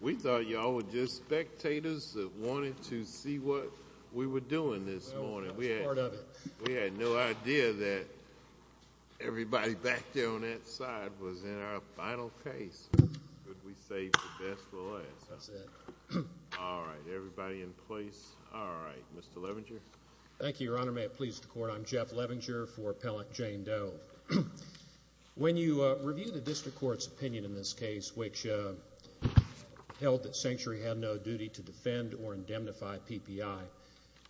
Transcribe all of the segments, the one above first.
We thought y'all were just spectators that wanted to see what we were doing this morning. We had no idea that everybody back there on that side was in our final case. Could we save the best for last? That's it. All right. Everybody in place? All right. Mr. Levinger? Thank you, Your Honor. May it please the Court, I'm Jeff Levinger for Appellant Jane Doe. When you review the District Court's opinion in this case, which held that Sanctuary had no duty to defend or indemnify PPI,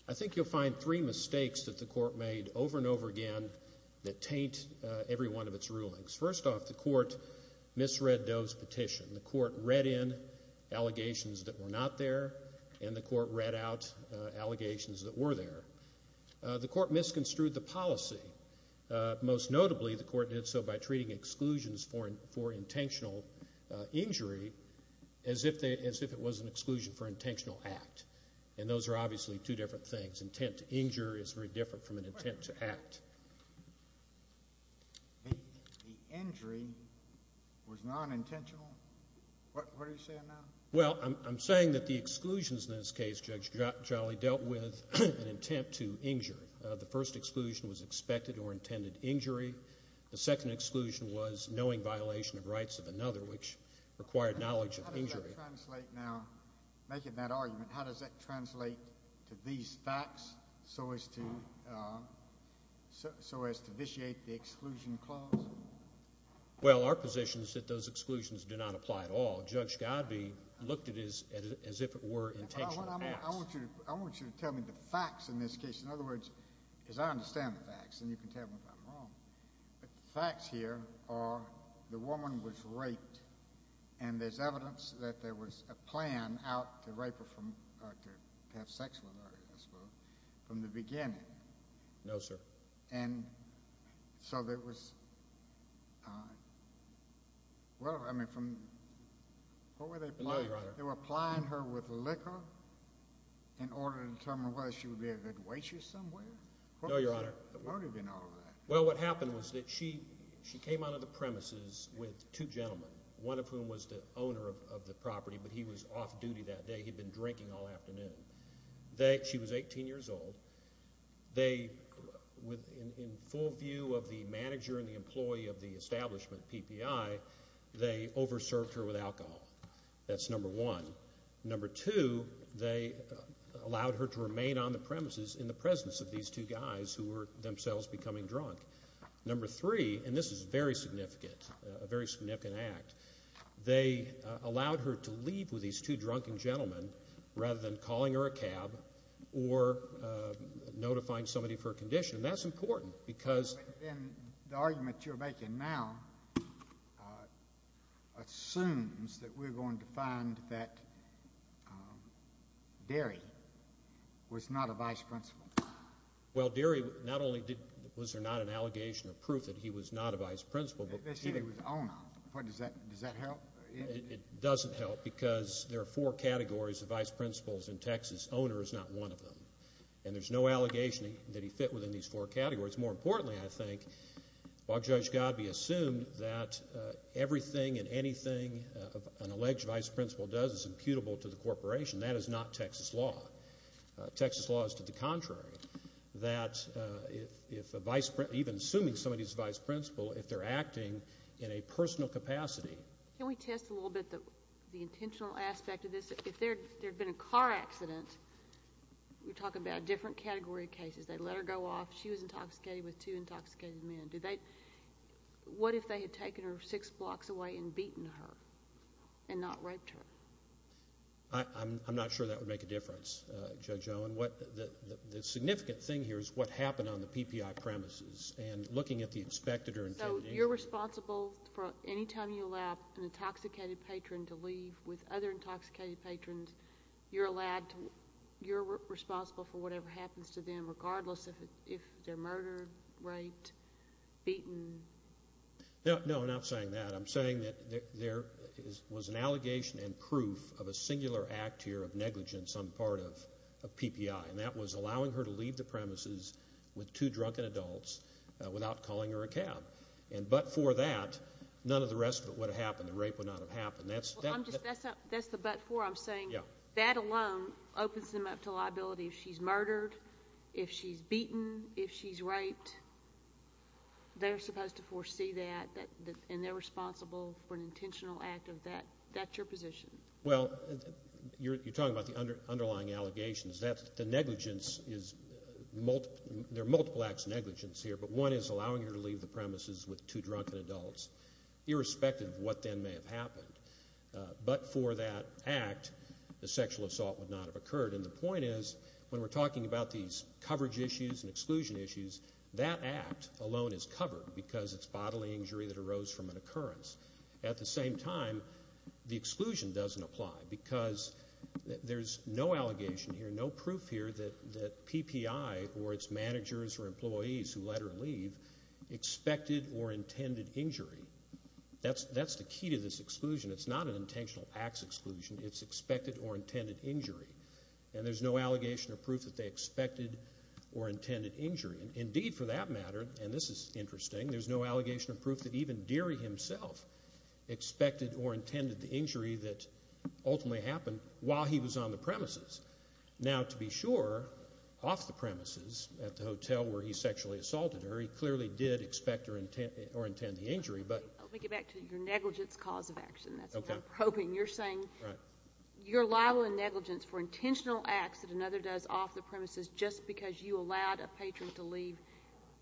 I think you'll find three mistakes that the Court made over and over again that taint every one of its rulings. First off, the Court misread Doe's petition. The Court read in allegations that were not there, and the Court read out allegations that were there. The Court misconstrued the policy. Most notably, the Court did so by treating exclusions for intentional injury as if it was an exclusion for intentional act. And those are obviously two different things. Intent to injure is very different from an intent to act. The injury was nonintentional? What are you saying now? Well, I'm saying that the exclusions in this case, Judge Jolly, dealt with an intent to injure. The first exclusion was expected or intended injury. The second exclusion was knowing violation of rights of another, which required knowledge of injury. How does that translate now? Making that argument, how does that translate to these facts so as to vitiate the exclusion clause? Well, our position is that those exclusions do not apply at all. Judge Godbee looked at it as if it were intentional acts. I want you to tell me the facts in this case. In other words, as I understand the facts, and you can tell me if I'm wrong, but the facts here are the woman was raped, and there's evidence that there was a plan out to rape her from—to have sex with her, I suppose, from the beginning. No, sir. And so there was—well, I mean, from—what were they applying? No, Your Honor. They were applying her with liquor in order to determine whether she would be a good waitress somewhere? No, Your Honor. What was the motive in all of that? Well, what happened was that she came out of the premises with two gentlemen, one of whom was the owner of the property, but he was off duty that day. He had been drinking all afternoon. She was 18 years old. They, in full view of the manager and the employee of the establishment, PPI, they over-served her with alcohol. That's number one. Number two, they allowed her to remain on the premises in the presence of these two guys who were themselves becoming drunk. Number three, and this is very significant, a very significant act, they allowed her to leave with these two drunken gentlemen rather than calling her a cab or notifying somebody for a condition, and that's important because— Derry was not a vice principal. Well, Derry not only did—was there not an allegation or proof that he was not a vice principal, but— They said he was owner. Does that help? It doesn't help because there are four categories of vice principals in Texas. Owner is not one of them, and there's no allegation that he fit within these four categories. More importantly, I think, while Judge Godbee assumed that everything and anything an alleged vice principal does is imputable to the corporation, that is not Texas law. Texas law is to the contrary, that if a vice principal, even assuming somebody is a vice principal, if they're acting in a personal capacity— Can we test a little bit the intentional aspect of this? If there had been a car accident, we're talking about a different category of cases. They let her go off. She was intoxicated with two intoxicated men. What if they had taken her six blocks away and beaten her and not raped her? I'm not sure that would make a difference, Judge Owen. The significant thing here is what happened on the PPI premises, and looking at the inspected— So you're responsible for any time you allow an intoxicated patron to leave with other intoxicated patrons, and you're responsible for whatever happens to them regardless if they're murdered, raped, beaten? No, I'm not saying that. I'm saying that there was an allegation and proof of a singular act here of negligence on the part of PPI, and that was allowing her to leave the premises with two drunken adults without calling her a cab. But for that, none of the rest of it would have happened. The rape would not have happened. That's the but for. I'm saying that alone opens them up to liability if she's murdered, if she's beaten, if she's raped. They're supposed to foresee that, and they're responsible for an intentional act of that. That's your position. Well, you're talking about the underlying allegations. The negligence is—there are multiple acts of negligence here, but one is allowing her to leave the premises with two drunken adults irrespective of what then may have happened. But for that act, the sexual assault would not have occurred, and the point is when we're talking about these coverage issues and exclusion issues, that act alone is covered because it's bodily injury that arose from an occurrence. At the same time, the exclusion doesn't apply because there's no allegation here, there's no proof here that PPI or its managers or employees who let her leave expected or intended injury. That's the key to this exclusion. It's not an intentional acts exclusion. It's expected or intended injury, and there's no allegation or proof that they expected or intended injury. Indeed, for that matter, and this is interesting, there's no allegation or proof that even Deary himself expected or intended the injury that ultimately happened while he was on the premises. Now, to be sure, off the premises at the hotel where he sexually assaulted her, he clearly did expect or intend the injury, but— Let me get back to your negligence cause of action. That's what I'm hoping. You're saying you're liable in negligence for intentional acts that another does off the premises just because you allowed a patron to leave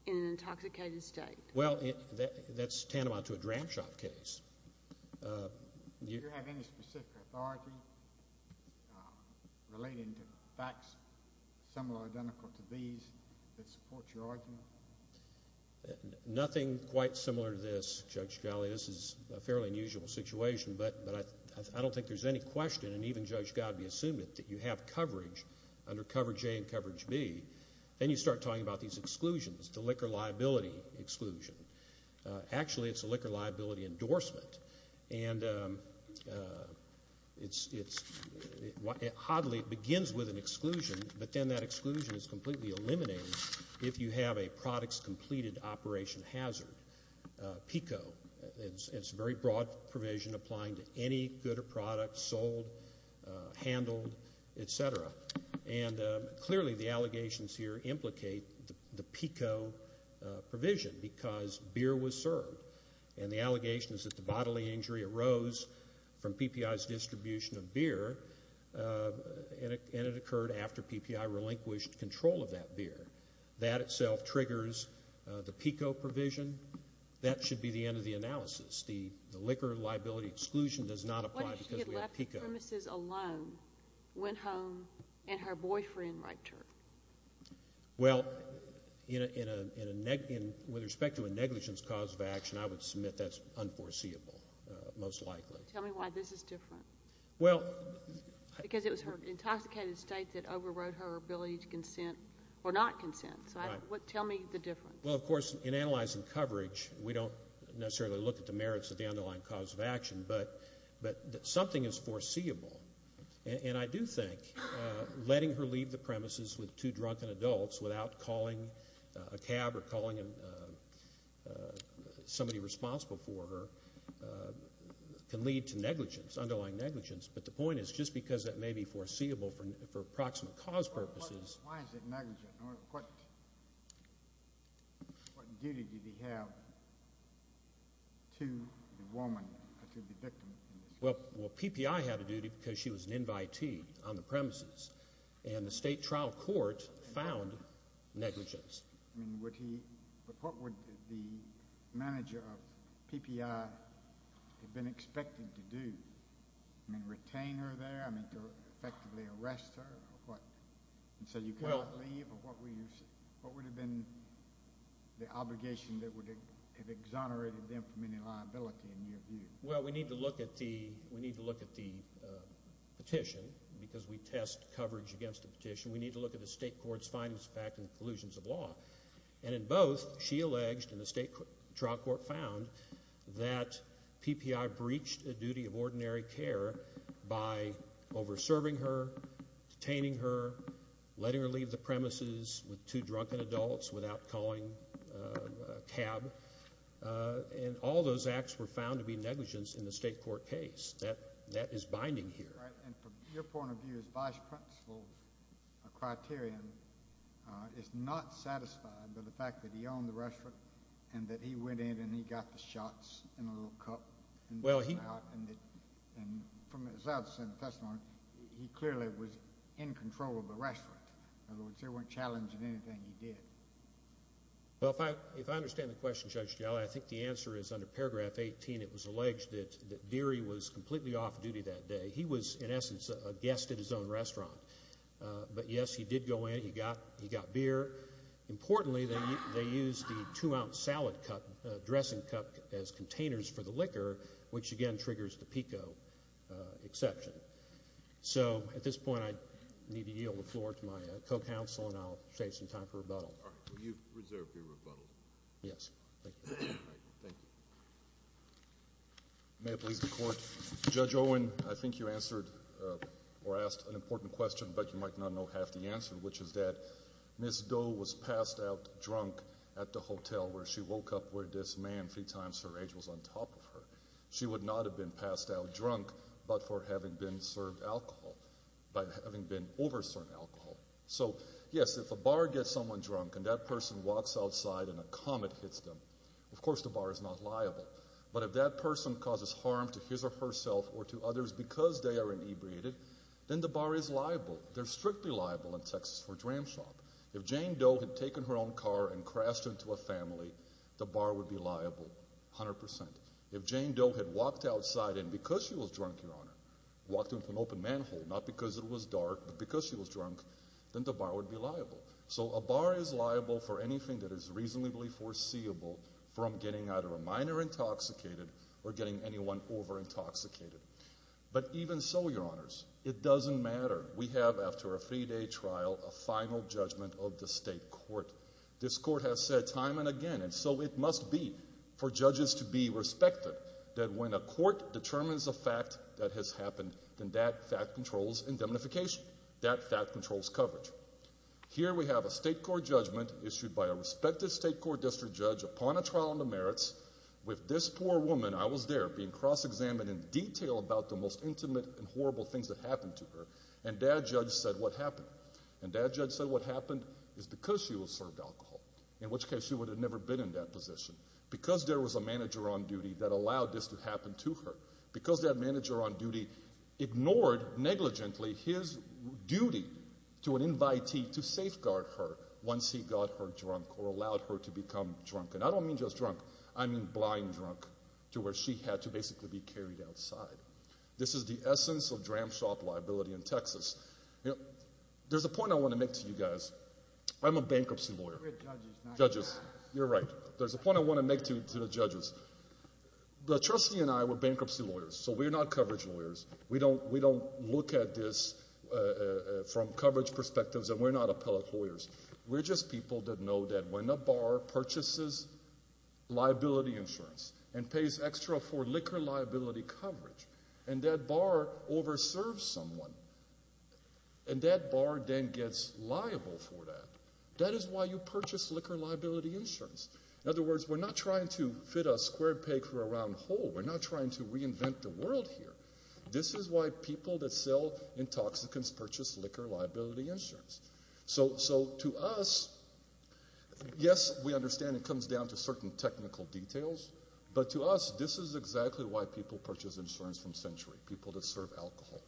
in an intoxicated state. Well, that's tantamount to a dram shop case. Do you have any specific authority relating to facts similar or identical to these that support your argument? Nothing quite similar to this, Judge Galley. This is a fairly unusual situation, but I don't think there's any question, and even Judge Godbee assumed it, that you have coverage under coverage A and coverage B. Then you start talking about these exclusions, the liquor liability exclusion. Actually, it's a liquor liability endorsement, and it's—it oddly begins with an exclusion, but then that exclusion is completely eliminated if you have a products completed operation hazard, PICO. It's a very broad provision applying to any good or product sold, handled, et cetera. And clearly the allegations here implicate the PICO provision because beer was served, and the allegations that the bodily injury arose from PPI's distribution of beer, and it occurred after PPI relinquished control of that beer. That itself triggers the PICO provision. That should be the end of the analysis. The woman who left the premises alone went home, and her boyfriend raped her. Well, in a—with respect to a negligence cause of action, I would submit that's unforeseeable, most likely. Tell me why this is different. Well— Because it was her intoxicated state that overrode her ability to consent or not consent. So tell me the difference. Well, of course, in analyzing coverage, we don't necessarily look at the merits of the underlying cause of action, but something is foreseeable. And I do think letting her leave the premises with two drunken adults without calling a cab or calling somebody responsible for her can lead to negligence, underlying negligence. But the point is just because that may be foreseeable for approximate cause purposes— Why is it negligent? What duty did he have to the woman, to the victim? Well, PPI had a duty because she was an invitee on the premises, and the state trial court found negligence. I mean, would he—but what would the manager of PPI have been expecting to do? I mean, retain her there? I mean, to effectively arrest her? And so you can't leave? Or what would have been the obligation that would have exonerated them from any liability in your view? Well, we need to look at the petition because we test coverage against the petition. We need to look at the state court's findings of fact and conclusions of law. And in both, she alleged, and the state trial court found, that PPI breached a duty of ordinary care by over-serving her, detaining her, letting her leave the premises with two drunken adults without calling a cab. And all those acts were found to be negligence in the state court case. That is binding here. And from your point of view, his vice principal's criterion is not satisfied by the fact that he owned the restaurant and that he went in and he got the shots in a little cup. And from his other side of the testimony, he clearly was in control of the restaurant. In other words, they weren't challenging anything he did. Well, if I understand the question, Judge Gellar, I think the answer is under paragraph 18, it was alleged that Deary was completely off duty that day. He was, in essence, a guest at his own restaurant. But, yes, he did go in. He got beer. Importantly, they used the two-ounce salad dressing cup as containers for the liquor, which, again, triggers the PICO exception. So at this point, I need to yield the floor to my co-counsel, and I'll save some time for rebuttal. All right. Will you reserve your rebuttal? Yes. Thank you. All right. Thank you. May it please the Court. Judge Owen, I think you answered or asked an important question, but you might not know half the answer, which is that Ms. Doe was passed out drunk at the hotel where she woke up where this man, three times her age, was on top of her. She would not have been passed out drunk but for having been served alcohol, by having been over served alcohol. So, yes, if a bar gets someone drunk and that person walks outside and a comet hits them, of course the bar is not liable. But if that person causes harm to his or herself or to others because they are inebriated, then the bar is liable. They're strictly liable in Texas for a dram shop. If Jane Doe had taken her own car and crashed into a family, the bar would be liable, 100%. If Jane Doe had walked outside and because she was drunk, Your Honor, walked into an open manhole, not because it was dark, but because she was drunk, then the bar would be liable. So a bar is liable for anything that is reasonably foreseeable from getting either a minor intoxicated or getting anyone over intoxicated. But even so, Your Honors, it doesn't matter. We have, after a three-day trial, a final judgment of the state court. This court has said time and again, and so it must be for judges to be respected, that when a court determines a fact that has happened, then that fact controls indemnification. That fact controls coverage. Here we have a state court judgment issued by a respected state court district judge upon a trial on the merits with this poor woman, I was there, being cross-examined in detail about the most intimate and horrible things that happened to her and that judge said what happened. And that judge said what happened is because she was served alcohol, in which case she would have never been in that position, because there was a manager on duty that allowed this to happen to her, because that manager on duty ignored negligently his duty to an invitee to safeguard her once he got her drunk or allowed her to become drunk. And I don't mean just drunk. I mean blind drunk to where she had to basically be carried outside. This is the essence of dram shop liability in Texas. There's a point I want to make to you guys. I'm a bankruptcy lawyer. We're judges. You're right. There's a point I want to make to the judges. The trustee and I were bankruptcy lawyers, so we're not coverage lawyers. We don't look at this from coverage perspectives, and we're not appellate lawyers. We're just people that know that when a bar purchases liability insurance and pays extra for liquor liability coverage and that bar overserves someone and that bar then gets liable for that, that is why you purchase liquor liability insurance. In other words, we're not trying to fit a square peg for a round hole. We're not trying to reinvent the world here. This is why people that sell intoxicants purchase liquor liability insurance. So to us, yes, we understand it comes down to certain technical details, but to us this is exactly why people purchase insurance from Century, people that serve alcohol.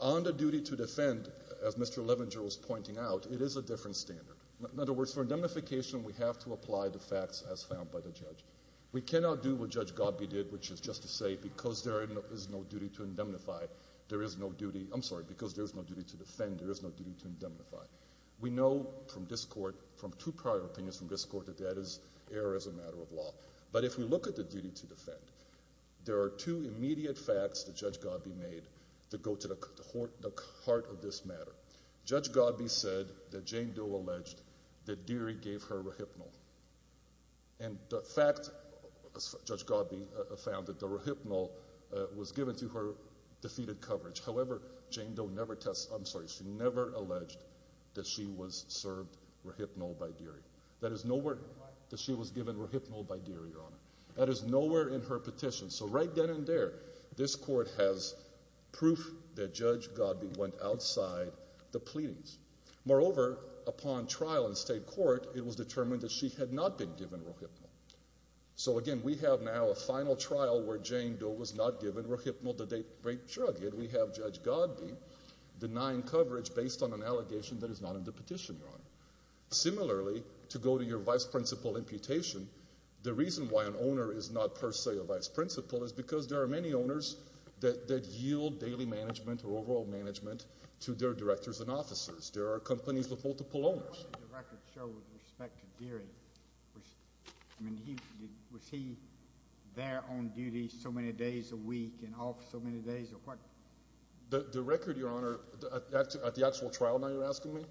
On the duty to defend, as Mr. Levenger was pointing out, it is a different standard. In other words, for indemnification we have to apply the facts as found by the judge. We cannot do what Judge Godbey did, which is just to say because there is no duty to indemnify, there is no duty, I'm sorry, because there is no duty to defend, there is no duty to indemnify. We know from this court, from two prior opinions from this court, that that is error as a matter of law. But if we look at the duty to defend, there are two immediate facts that Judge Godbey made that go to the heart of this matter. Judge Godbey said that Jane Doe alleged that Deary gave her rohypnol, and the fact, Judge Godbey found that the rohypnol was given to her defeated coverage. However, Jane Doe never, I'm sorry, she never alleged that she was served rohypnol by Deary. That is nowhere that she was given rohypnol by Deary, Your Honor. That is nowhere in her petition. So right then and there, this court has proof that Judge Godbey went outside the pleadings. Moreover, upon trial in state court, it was determined that she had not been given rohypnol. So again, we have now a final trial where Jane Doe was not given rohypnol, the date-break drug, yet we have Judge Godbey denying coverage based on an allegation that is not in the petition, Your Honor. Similarly, to go to your vice principal imputation, the reason why an owner is not per se a vice principal is because there are many owners that yield daily management or overall management to their directors and officers. There are companies with multiple owners. What did the record show with respect to Deary? I mean, was he there on duty so many days a week and off so many days or what? The record, Your Honor, at the actual trial now you're asking me,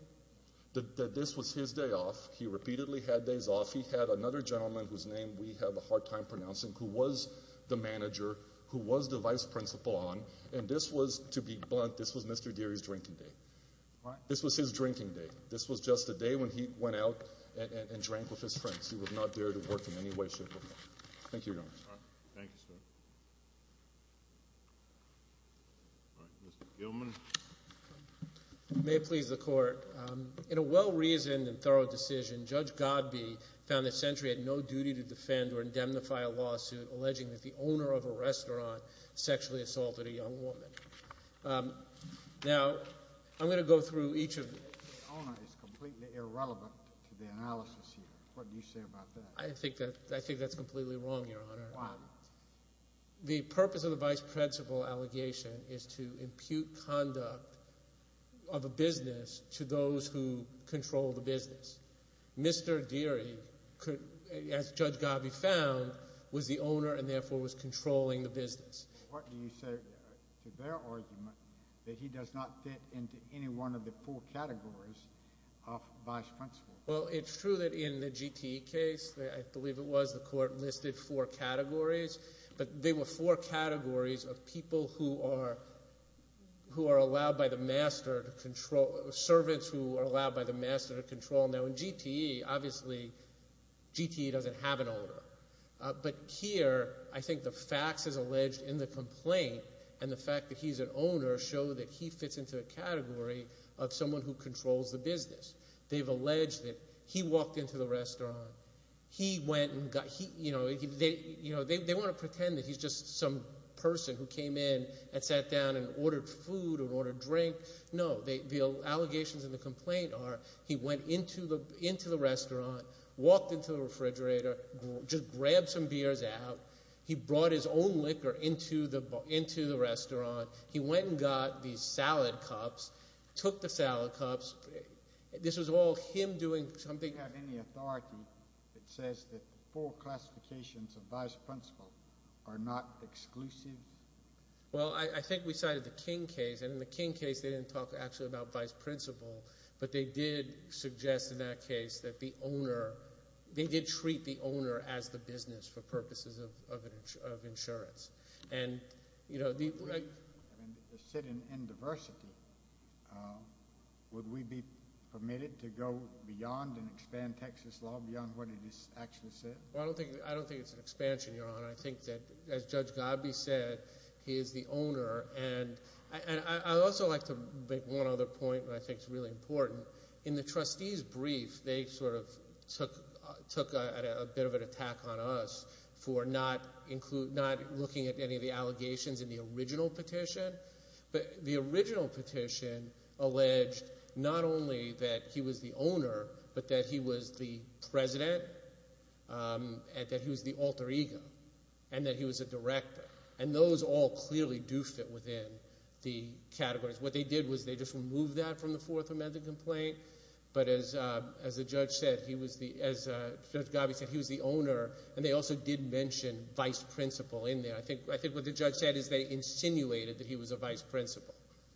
that this was his day off. He repeatedly had days off. He had another gentleman whose name we have a hard time pronouncing who was the manager, who was the vice principal on, and this was, to be blunt, this was Mr. Deary's drinking day. This was his drinking day. This was just a day when he went out and drank with his friends. He would not dare to work in any way, shape, or form. Thank you, Your Honor. All right. Thank you, sir. All right. Mr. Gilman. If it may please the Court, in a well-reasoned and thorough decision, Judge Godbey found that Century had no duty to defend or indemnify a lawsuit alleging that the owner of a restaurant sexually assaulted a young woman. Now, I'm going to go through each of them. The owner is completely irrelevant to the analysis here. What do you say about that? I think that's completely wrong, Your Honor. Why? The purpose of the vice principal allegation is to impute conduct of a business to those who control the business. Mr. Deary, as Judge Godbey found, was the owner and therefore was controlling the business. What do you say to their argument that he does not fit into any one of the four categories of vice principal? Well, it's true that in the GTE case, I believe it was, the Court listed four categories, but they were four categories of people who are allowed by the master to control, servants who are allowed by the master to control. Now, in GTE, obviously, GTE doesn't have an owner. But here, I think the facts, as alleged in the complaint, and the fact that he's an owner show that he fits into a category of someone who controls the business. They've alleged that he walked into the restaurant. They want to pretend that he's just some person who came in and sat down and ordered food or ordered drink. No, the allegations in the complaint are he went into the restaurant, walked into the refrigerator, just grabbed some beers out. He brought his own liquor into the restaurant. He went and got these salad cups, took the salad cups. This was all him doing something. Do you have any authority that says that the four classifications of vice principal are not exclusive? Well, I think we cited the King case, and in the King case, they didn't talk actually about vice principal, but they did suggest in that case that the owner, they did treat the owner as the business for purposes of insurance. And, you know, the— I mean, the sit-in in diversity, would we be permitted to go beyond and expand Texas law beyond what it actually said? Well, I don't think it's an expansion, Your Honor. I think that, as Judge Gabby said, he is the owner. And I'd also like to make one other point that I think is really important. In the trustees' brief, they sort of took a bit of an attack on us for not looking at any of the allegations in the original petition. But the original petition alleged not only that he was the owner, but that he was the president, and that he was the alter ego, and that he was a director. And those all clearly do fit within the categories. What they did was they just removed that from the Fourth Amendment complaint. But as the judge said, he was the—as Judge Gabby said, he was the owner. And they also did mention vice principal in there. I think what the judge said is they insinuated that he was a vice principal.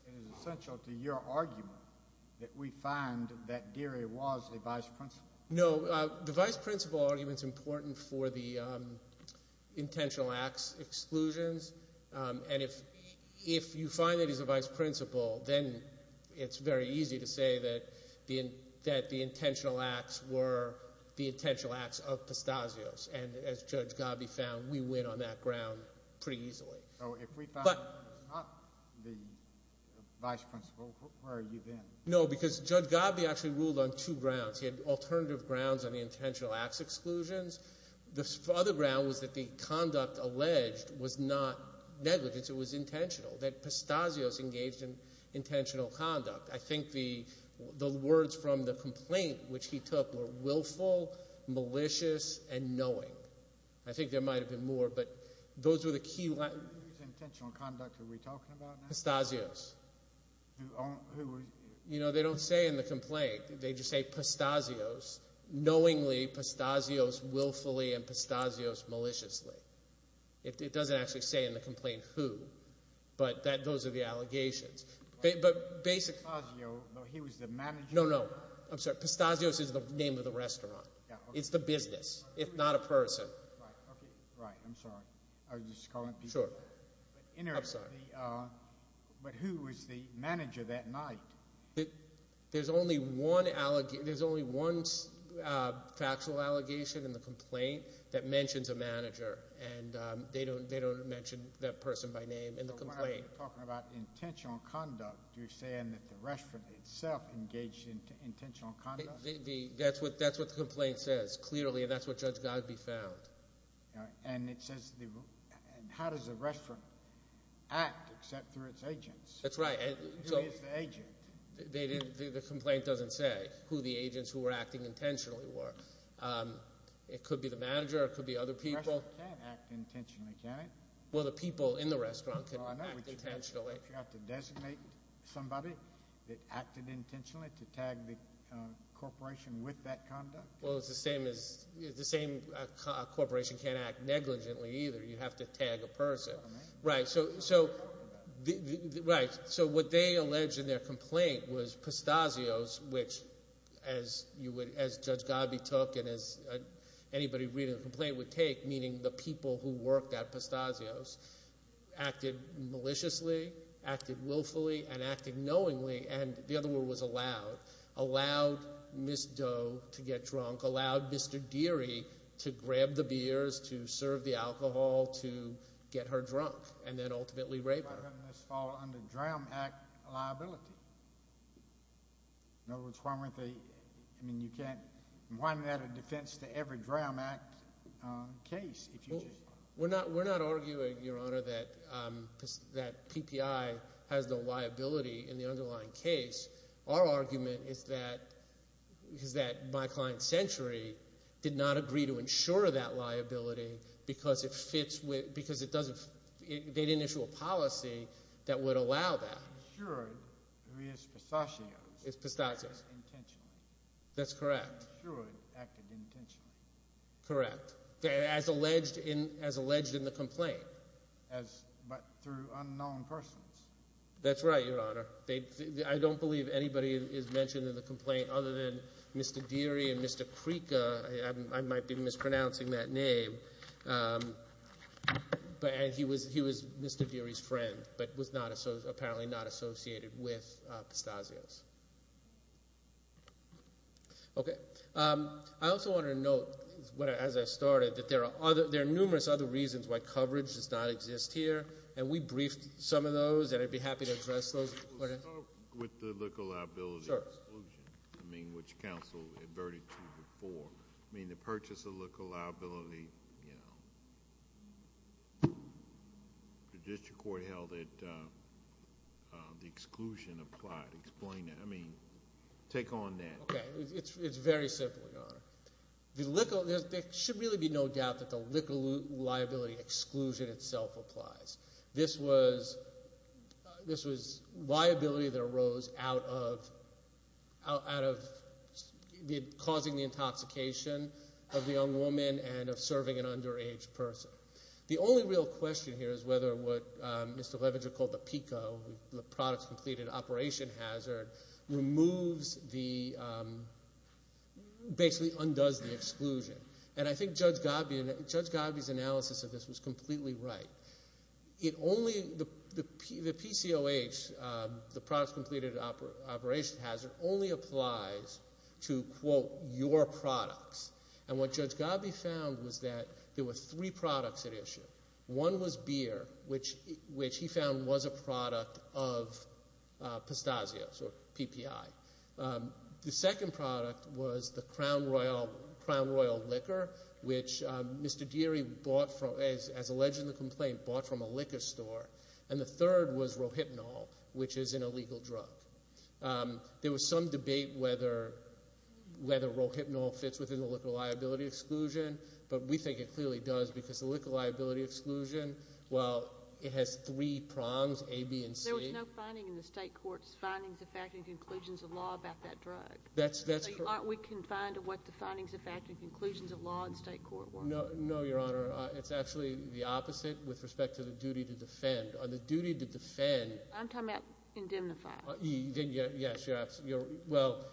It is essential to your argument that we find that Geary was a vice principal. No, the vice principal argument is important for the intentional acts exclusions. And if you find that he's a vice principal, then it's very easy to say that the intentional acts were the intentional acts of Pastazio's. And as Judge Gabby found, we win on that ground pretty easily. So if we found that he was not the vice principal, where are you then? No, because Judge Gabby actually ruled on two grounds. He had alternative grounds on the intentional acts exclusions. The other ground was that the conduct alleged was not negligence. It was intentional, that Pastazio's engaged in intentional conduct. I think the words from the complaint which he took were willful, malicious, and knowing. I think there might have been more, but those were the key— Whose intentional conduct are we talking about now? Pastazio's. Who was— They don't say in the complaint. They just say Pastazio's, knowingly, Pastazio's willfully, and Pastazio's maliciously. It doesn't actually say in the complaint who, but those are the allegations. But basically— Pastazio, though he was the manager— No, no. I'm sorry. Pastazio's is the name of the restaurant. It's the business, if not a person. Right, okay. Right. I'm sorry. I was just calling people. Sure. But who was the manager that night? There's only one factual allegation in the complaint that mentions a manager, and they don't mention that person by name in the complaint. So we're talking about intentional conduct. You're saying that the restaurant itself engaged in intentional conduct? That's what the complaint says, clearly, and that's what Judge Godbey found. And it says how does the restaurant act except through its agents? That's right. Who is the agent? The complaint doesn't say who the agents who were acting intentionally were. It could be the manager. It could be other people. The restaurant can't act intentionally, can it? Well, the people in the restaurant can act intentionally. Well, I know, but you have to designate somebody that acted intentionally to tag the corporation with that conduct. Well, it's the same as—the same corporation can't act negligently either. You have to tag a person. Right. So what they allege in their complaint was Pistazio's, which, as Judge Godbey took and as anybody reading the complaint would take, meaning the people who worked at Pistazio's, acted maliciously, acted willfully, and acted knowingly. And the other word was allowed. Allowed Ms. Doe to get drunk. Allowed Mr. Deary to grab the beers, to serve the alcohol, to get her drunk, and then ultimately rape her. Why doesn't this fall under DRAM Act liability? In other words, why aren't they—I mean you can't—why isn't that a defense to every DRAM Act case if you just— We're not arguing, Your Honor, that PPI has no liability in the underlying case. Our argument is that my client Century did not agree to insure that liability because it fits with—because it doesn't— they didn't issue a policy that would allow that. Insured who is Pistazio's. Is Pistazio's. Acted intentionally. That's correct. Insured, acted intentionally. Correct. As alleged in the complaint. As—but through unknown persons. That's right, Your Honor. I don't believe anybody is mentioned in the complaint other than Mr. Deary and Mr. Creca. I might be mispronouncing that name. He was Mr. Deary's friend but was not—apparently not associated with Pistazio's. Okay. I also want to note as I started that there are numerous other reasons why coverage does not exist here, and we briefed some of those, and I'd be happy to address those. Could we start with the liquor liability exclusion? Sure. I mean, which counsel adverted to before. I mean, the purchase of liquor liability, you know. The district court held that the exclusion applied. Explain that. Okay. It's very simple, Your Honor. There should really be no doubt that the liquor liability exclusion itself applies. This was liability that arose out of causing the intoxication of the young woman and of serving an underage person. The only real question here is whether what Mr. Levenger called the PICO, the Products Completed Operation Hazard, removes the—basically undoes the exclusion. And I think Judge Godby's analysis of this was completely right. It only—the PCOH, the Products Completed Operation Hazard, only applies to, quote, your products. And what Judge Godby found was that there were three products at issue. One was beer, which he found was a product of pistachios or PPI. The second product was the Crown Royal liquor, which Mr. Deary bought from—as alleged in the complaint, bought from a liquor store. And the third was Rohypnol, which is an illegal drug. There was some debate whether Rohypnol fits within the liquor liability exclusion, but we think it clearly does because the liquor liability exclusion, while it has three prongs, A, B, and C— There was no finding in the state court's findings, effect, and conclusions of law about that drug. That's correct. So aren't we confined to what the findings, effect, and conclusions of law in state court were? No, Your Honor. It's actually the opposite with respect to the duty to defend. On the duty to defend— I'm talking about indemnify. Well,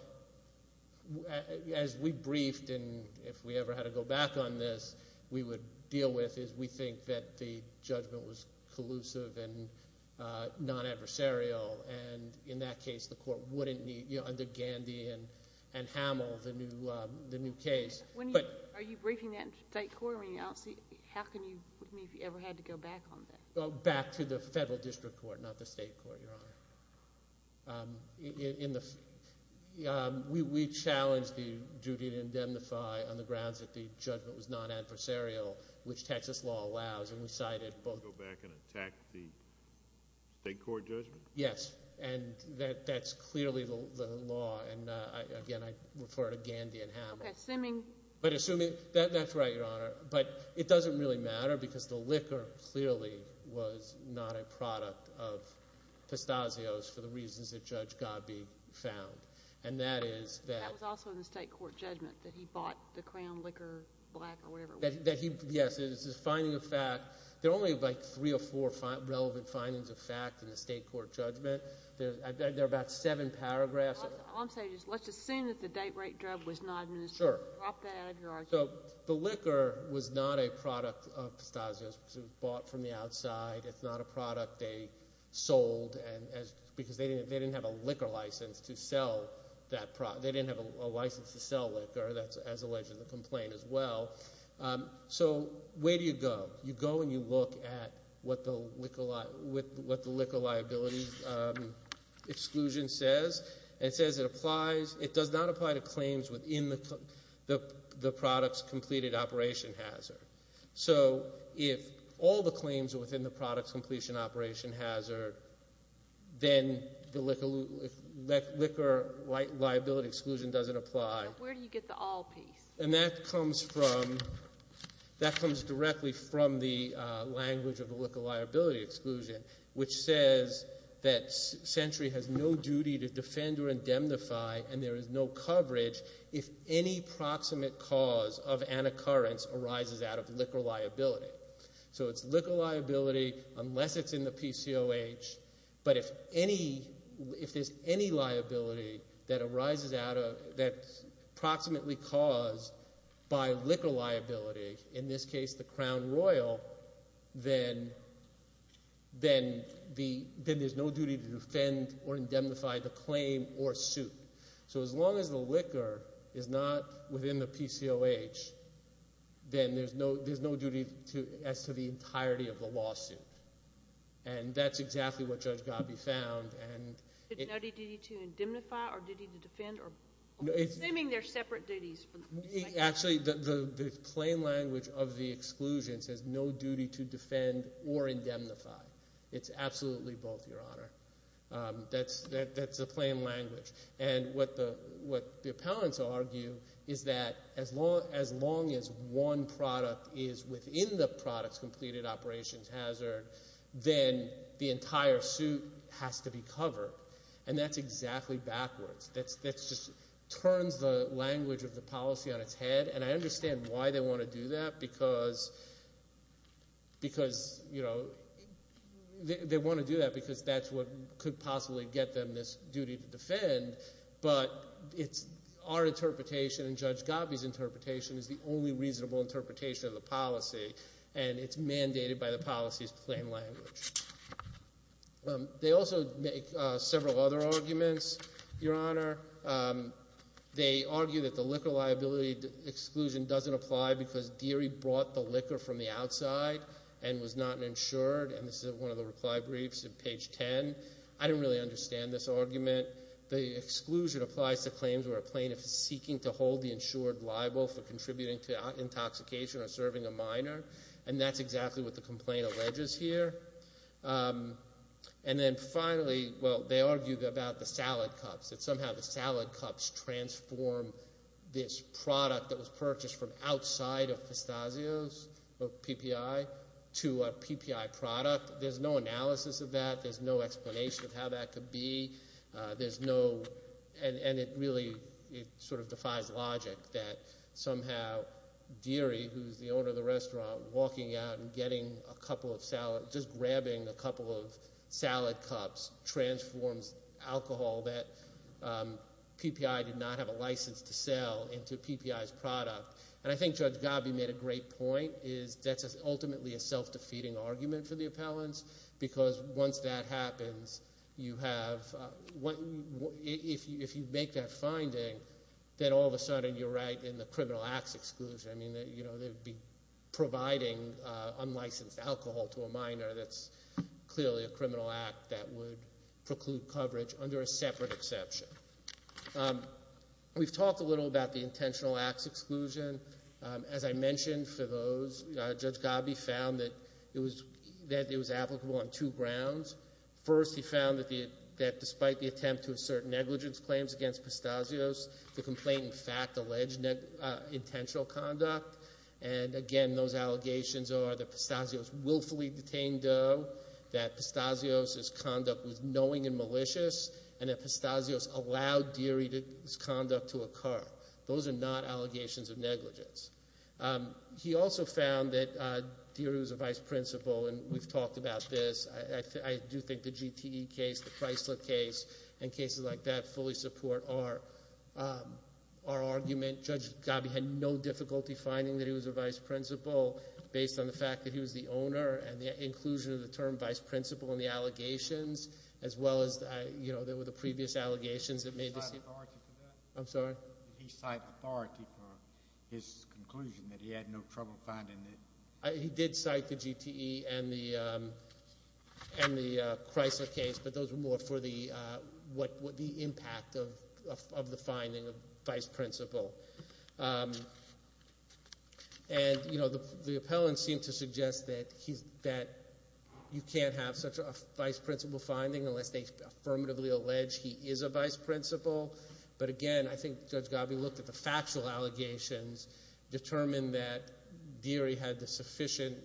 as we briefed and if we ever had to go back on this, we would deal with is we think that the judgment was collusive and non-adversarial. And in that case, the court wouldn't need—under Gandy and Hamill, the new case. Are you briefing that in state court? I mean I don't see—how can you—if you ever had to go back on that? Back to the federal district court, not the state court, Your Honor. We challenged the duty to indemnify on the grounds that the judgment was non-adversarial, which Texas law allows, and we cited both— Go back and attack the state court judgment? Yes, and that's clearly the law, and again, I refer to Gandy and Hamill. Okay, assuming— That's right, Your Honor, but it doesn't really matter because the liquor clearly was not a product of Pistazio's for the reasons that Judge Godbee found, and that is that— That was also in the state court judgment that he bought the Crown liquor, black or whatever. Yes, it's a finding of fact. There are only like three or four relevant findings of fact in the state court judgment. There are about seven paragraphs of it. Let's assume that the date rate drug was not administered. Sure. Drop that out of your argument. So the liquor was not a product of Pistazio's because it was bought from the outside. It's not a product they sold because they didn't have a liquor license to sell that product. They didn't have a license to sell liquor. That's alleged in the complaint as well. So where do you go? You go and you look at what the liquor liability exclusion says. It says it applies—it does not apply to claims within the product's completed operation hazard. So if all the claims are within the product's completion operation hazard, then the liquor liability exclusion doesn't apply. But where do you get the all piece? And that comes from—that comes directly from the language of the liquor liability exclusion, which says that Century has no duty to defend or indemnify and there is no coverage if any proximate cause of an occurrence arises out of liquor liability. So it's liquor liability unless it's in the PCOH, but if there's any liability that arises out of—that's proximately caused by liquor liability, in this case the Crown Royal, then there's no duty to defend or indemnify the claim or suit. So as long as the liquor is not within the PCOH, then there's no duty as to the entirety of the lawsuit. And that's exactly what Judge Gobbey found and— No duty to indemnify or duty to defend or—assuming they're separate duties. Actually, the plain language of the exclusion says no duty to defend or indemnify. It's absolutely both, Your Honor. That's the plain language. And what the appellants argue is that as long as one product is within the product's completed operations hazard, then the entire suit has to be covered. And that's exactly backwards. That's just—turns the language of the policy on its head, and I understand why they want to do that because, you know, they want to do that because that's what could possibly get them this duty to defend. But it's—our interpretation and Judge Gobbey's interpretation is the only reasonable interpretation of the policy, and it's mandated by the policy's plain language. They also make several other arguments, Your Honor. They argue that the liquor liability exclusion doesn't apply because Deary brought the liquor from the outside and was not insured, and this is one of the reply briefs in page 10. I didn't really understand this argument. The exclusion applies to claims where a plaintiff is seeking to hold the insured liable for contributing to intoxication or serving a minor, and that's exactly what the complaint alleges here. And then finally, well, they argue about the salad cups, that somehow the salad cups transform this product that was purchased from outside of Pistazios or PPI to a PPI product. There's no analysis of that. There's no explanation of how that could be. There's no—and it really sort of defies logic that somehow Deary, who's the owner of the restaurant, walking out and getting a couple of salad—just grabbing a couple of salad cups transforms alcohol that PPI did not have a license to sell into PPI's product. And I think Judge Gabbi made a great point, is that's ultimately a self-defeating argument for the appellants because once that happens, you have—if you make that finding, then all of a sudden you're right in the criminal acts exclusion. I mean, you know, they'd be providing unlicensed alcohol to a minor. That's clearly a criminal act that would preclude coverage under a separate exception. We've talked a little about the intentional acts exclusion. As I mentioned for those, Judge Gabbi found that it was applicable on two grounds. First, he found that despite the attempt to assert negligence claims against Pistazios, the complaint in fact alleged intentional conduct. And again, those allegations are that Pistazios willfully detained Doe, that Pistazios' conduct was knowing and malicious, and that Pistazios allowed Deary's conduct to occur. Those are not allegations of negligence. He also found that Deary was a vice principal, and we've talked about this. I do think the GTE case, the Chrysler case, and cases like that fully support our argument. Judge Gabbi had no difficulty finding that he was a vice principal based on the fact that he was the owner and the inclusion of the term vice principal in the allegations as well as, you know, there were the previous allegations that made— Did he cite authority for that? I'm sorry? Did he cite authority for his conclusion that he had no trouble finding it? He did cite the GTE and the Chrysler case, but those were more for the impact of the finding of vice principal. And, you know, the appellants seem to suggest that you can't have such a vice principal finding unless they affirmatively allege he is a vice principal. But again, I think Judge Gabbi looked at the factual allegations, determined that Deary had the sufficient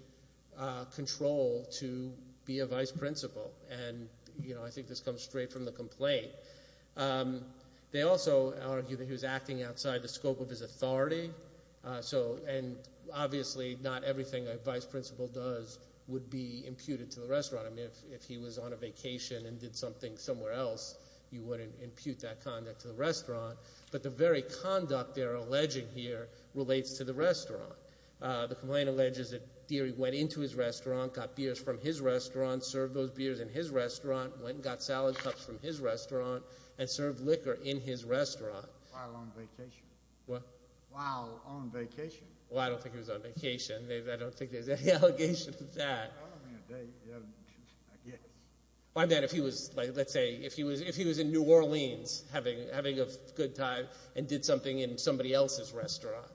control to be a vice principal. And, you know, I think this comes straight from the complaint. They also argue that he was acting outside the scope of his authority. So—and obviously not everything a vice principal does would be imputed to the restaurant. I mean, if he was on a vacation and did something somewhere else, you wouldn't impute that conduct to the restaurant. But the very conduct they're alleging here relates to the restaurant. The complaint alleges that Deary went into his restaurant, got beers from his restaurant, served those beers in his restaurant, went and got salad cups from his restaurant, and served liquor in his restaurant. While on vacation. What? While on vacation. Well, I don't think he was on vacation. I don't think there's any allegation to that. Well, I mean, they—I guess. Well, I mean, if he was—let's say if he was in New Orleans having a good time and did something in somebody else's restaurant.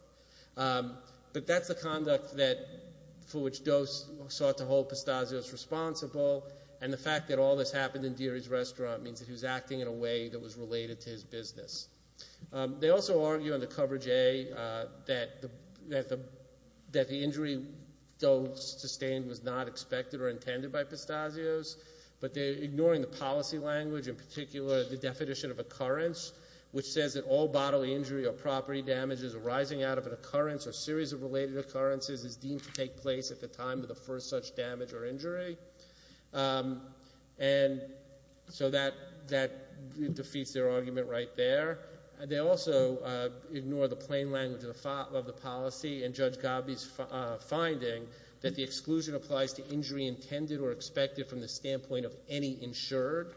But that's the conduct for which Doe sought to hold Pastazio's responsible. And the fact that all this happened in Deary's restaurant means that he was acting in a way that was related to his business. They also argue in the coverage A that the injury Doe sustained was not expected or intended by Pastazio's. But they're ignoring the policy language, in particular the definition of occurrence, which says that all bodily injury or property damages arising out of an occurrence or series of related occurrences is deemed to take place at the time of the first such damage or injury. And so that defeats their argument right there. They also ignore the plain language of the policy in Judge Gabbi's finding that the exclusion applies to injury intended or expected from the standpoint of any insured.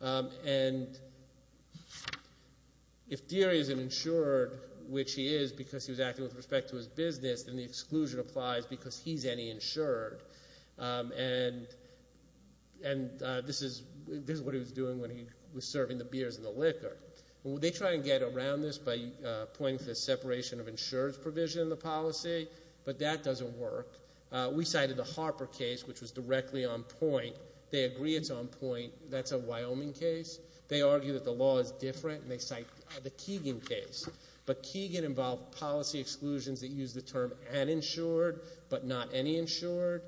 And if Deary is an insured, which he is because he was acting with respect to his business, then the exclusion applies because he's any insured. And this is what he was doing when he was serving the beers and the liquor. They try and get around this by pointing to the separation of insured provision in the policy, but that doesn't work. We cited the Harper case, which was directly on point. They agree it's on point. That's a Wyoming case. They argue that the law is different, and they cite the Keegan case. But Keegan involved policy exclusions that use the term uninsured but not any insured.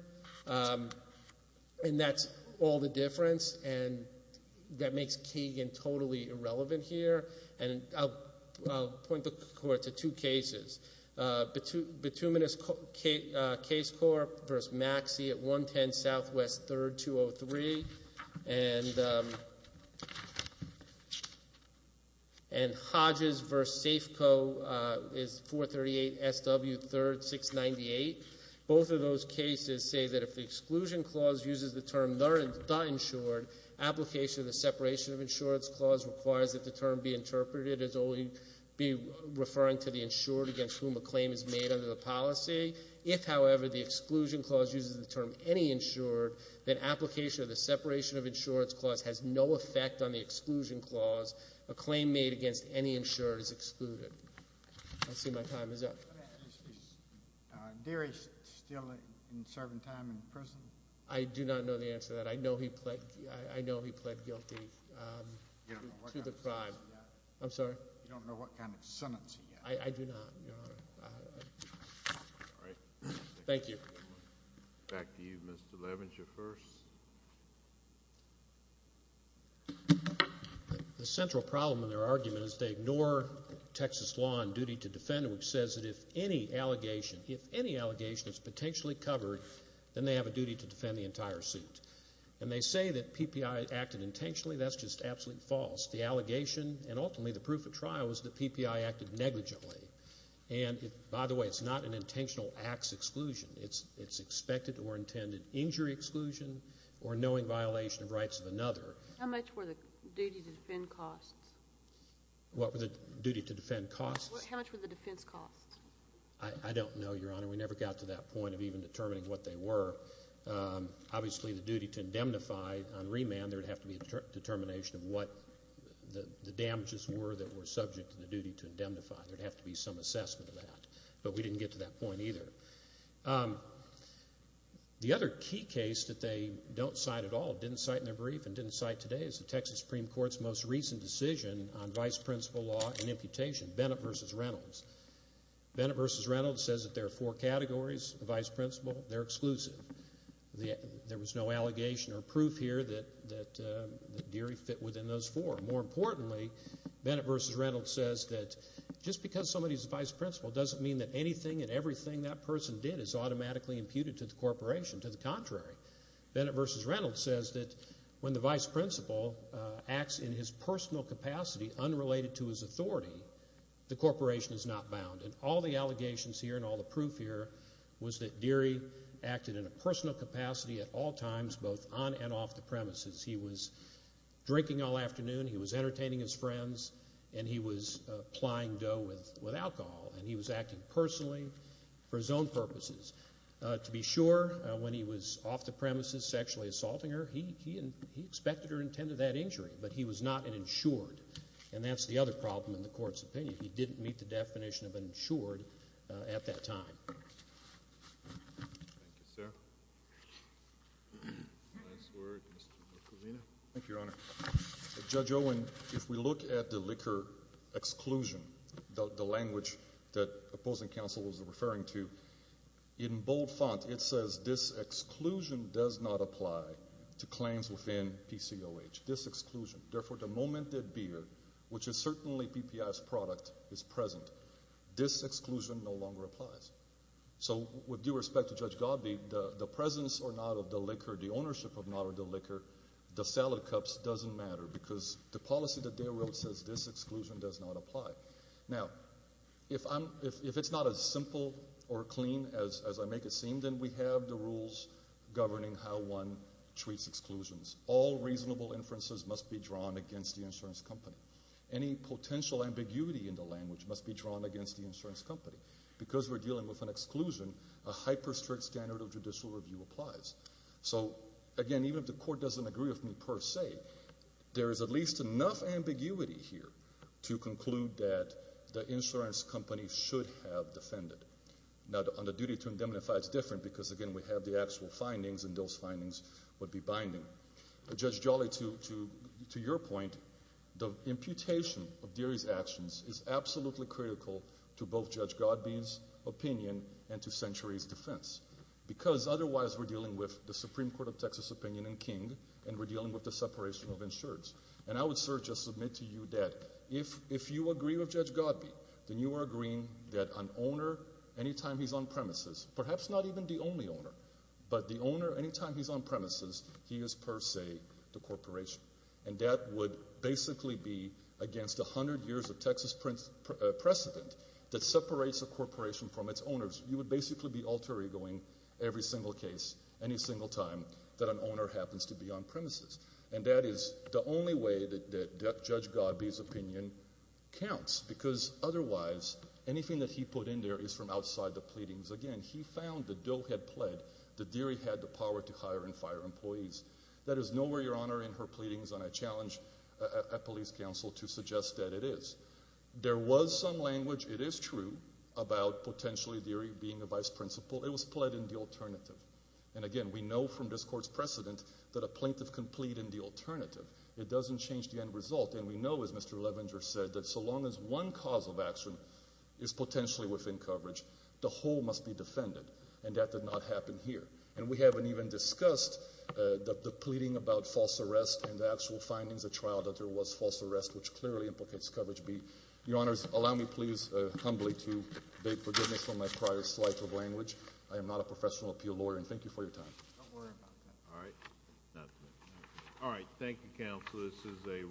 And that's all the difference, and that makes Keegan totally irrelevant here. And I'll point the court to two cases, Bituminous case court versus Maxey at 110 Southwest 3rd, 203, and Hodges versus Safeco is 438 SW 3rd, 698. Both of those cases say that if the exclusion clause uses the term not insured, application of the separation of insurance clause requires that the term be interpreted as only referring to the insured against whom a claim is made under the policy. If, however, the exclusion clause uses the term any insured, then application of the separation of insurance clause has no effect on the exclusion clause. A claim made against any insured is excluded. I see my time is up. Is Deary still serving time in prison? I do not know the answer to that. I know he pled guilty to the crime. You don't know what kind of sentence he got? I'm sorry? You don't know what kind of sentence he got? I do not, Your Honor. All right. Thank you. Back to you, Mr. Levenger, first. The central problem in their argument is they ignore Texas law and duty to defend, which says that if any allegation, if any allegation is potentially covered, then they have a duty to defend the entire suit. And they say that PPI acted intentionally. That's just absolutely false. The allegation and ultimately the proof of trial is that PPI acted negligently. And, by the way, it's not an intentional acts exclusion. It's expected or intended injury exclusion or knowing violation of rights of another. How much were the duty to defend costs? What were the duty to defend costs? How much were the defense costs? I don't know, Your Honor. We never got to that point of even determining what they were. Obviously, the duty to indemnify on remand, there would have to be a determination of what the damages were that were subject to the duty to indemnify. There would have to be some assessment of that. But we didn't get to that point either. The other key case that they don't cite at all, didn't cite in their brief, and didn't cite today is the Texas Supreme Court's most recent decision on vice principal law and imputation, Bennett v. Reynolds. Bennett v. Reynolds says that there are four categories of vice principal. They're exclusive. There was no allegation or proof here that Deary fit within those four. More importantly, Bennett v. Reynolds says that just because somebody's a vice principal doesn't mean that anything and everything that person did is automatically imputed to the corporation. To the contrary, Bennett v. Reynolds says that when the vice principal acts in his personal capacity unrelated to his authority, the corporation is not bound. And all the allegations here and all the proof here was that Deary acted in a personal capacity at all times, both on and off the premises. He was drinking all afternoon. He was entertaining his friends. And he was plying dough with alcohol. And he was acting personally for his own purposes. To be sure, when he was off the premises sexually assaulting her, he expected or intended that injury. But he was not an insured. And that's the other problem in the court's opinion. He didn't meet the definition of an insured at that time. Thank you, sir. Last word. Thank you, Your Honor. Judge Owen, if we look at the liquor exclusion, the language that opposing counsel was referring to, in bold font it says this exclusion does not apply to claims within PCOH. This exclusion. Therefore, the moment that beer, which is certainly PPI's product, is present, this exclusion no longer applies. So with due respect to Judge Godby, the presence or not of the liquor, the ownership or not of the liquor, the salad cups doesn't matter because the policy that they wrote says this exclusion does not apply. Now, if it's not as simple or clean as I make it seem, then we have the rules governing how one treats exclusions. All reasonable inferences must be drawn against the insurance company. Any potential ambiguity in the language must be drawn against the insurance company. Because we're dealing with an exclusion, a hyper strict standard of judicial review applies. So, again, even if the court doesn't agree with me per se, there is at least enough ambiguity here to conclude that the insurance company should have defended. Now, on the duty to indemnify, it's different because, again, we have the actual findings and those findings would be binding. Judge Jolly, to your point, the imputation of Deary's actions is absolutely critical to both Judge Godby's opinion and to Century's defense because otherwise we're dealing with the Supreme Court of Texas opinion in King and we're dealing with the separation of insureds. And I would, sir, just submit to you that if you agree with Judge Godby, then you are agreeing that an owner, anytime he's on premises, perhaps not even the only owner, but the owner, anytime he's on premises, he is per se the corporation. And that would basically be against 100 years of Texas precedent that separates a corporation from its owners. You would basically be alter egoing every single case, any single time that an owner happens to be on premises. And that is the only way that Judge Godby's opinion counts because otherwise anything that he put in there is from outside the pleadings. Again, he found that Dill had pled that Deary had the power to hire and fire employees. That is nowhere, Your Honor, in her pleadings and I challenge a police counsel to suggest that it is. There was some language, it is true, about potentially Deary being a vice principal. It was pled in the alternative. And again, we know from this court's precedent that a plaintiff can plead in the alternative. It doesn't change the end result. And we know, as Mr. Levenger said, that so long as one cause of action is potentially within coverage, the whole must be defended. And that did not happen here. And we haven't even discussed the pleading about false arrest and the actual findings of trial that there was false arrest, which clearly implicates coverage B. Your Honors, allow me please humbly to beg forgiveness for my prior slight of language. I am not a professional appeal lawyer. And thank you for your time. Don't worry about that. All right. All right. Thank you, Counsel. This is a roll call.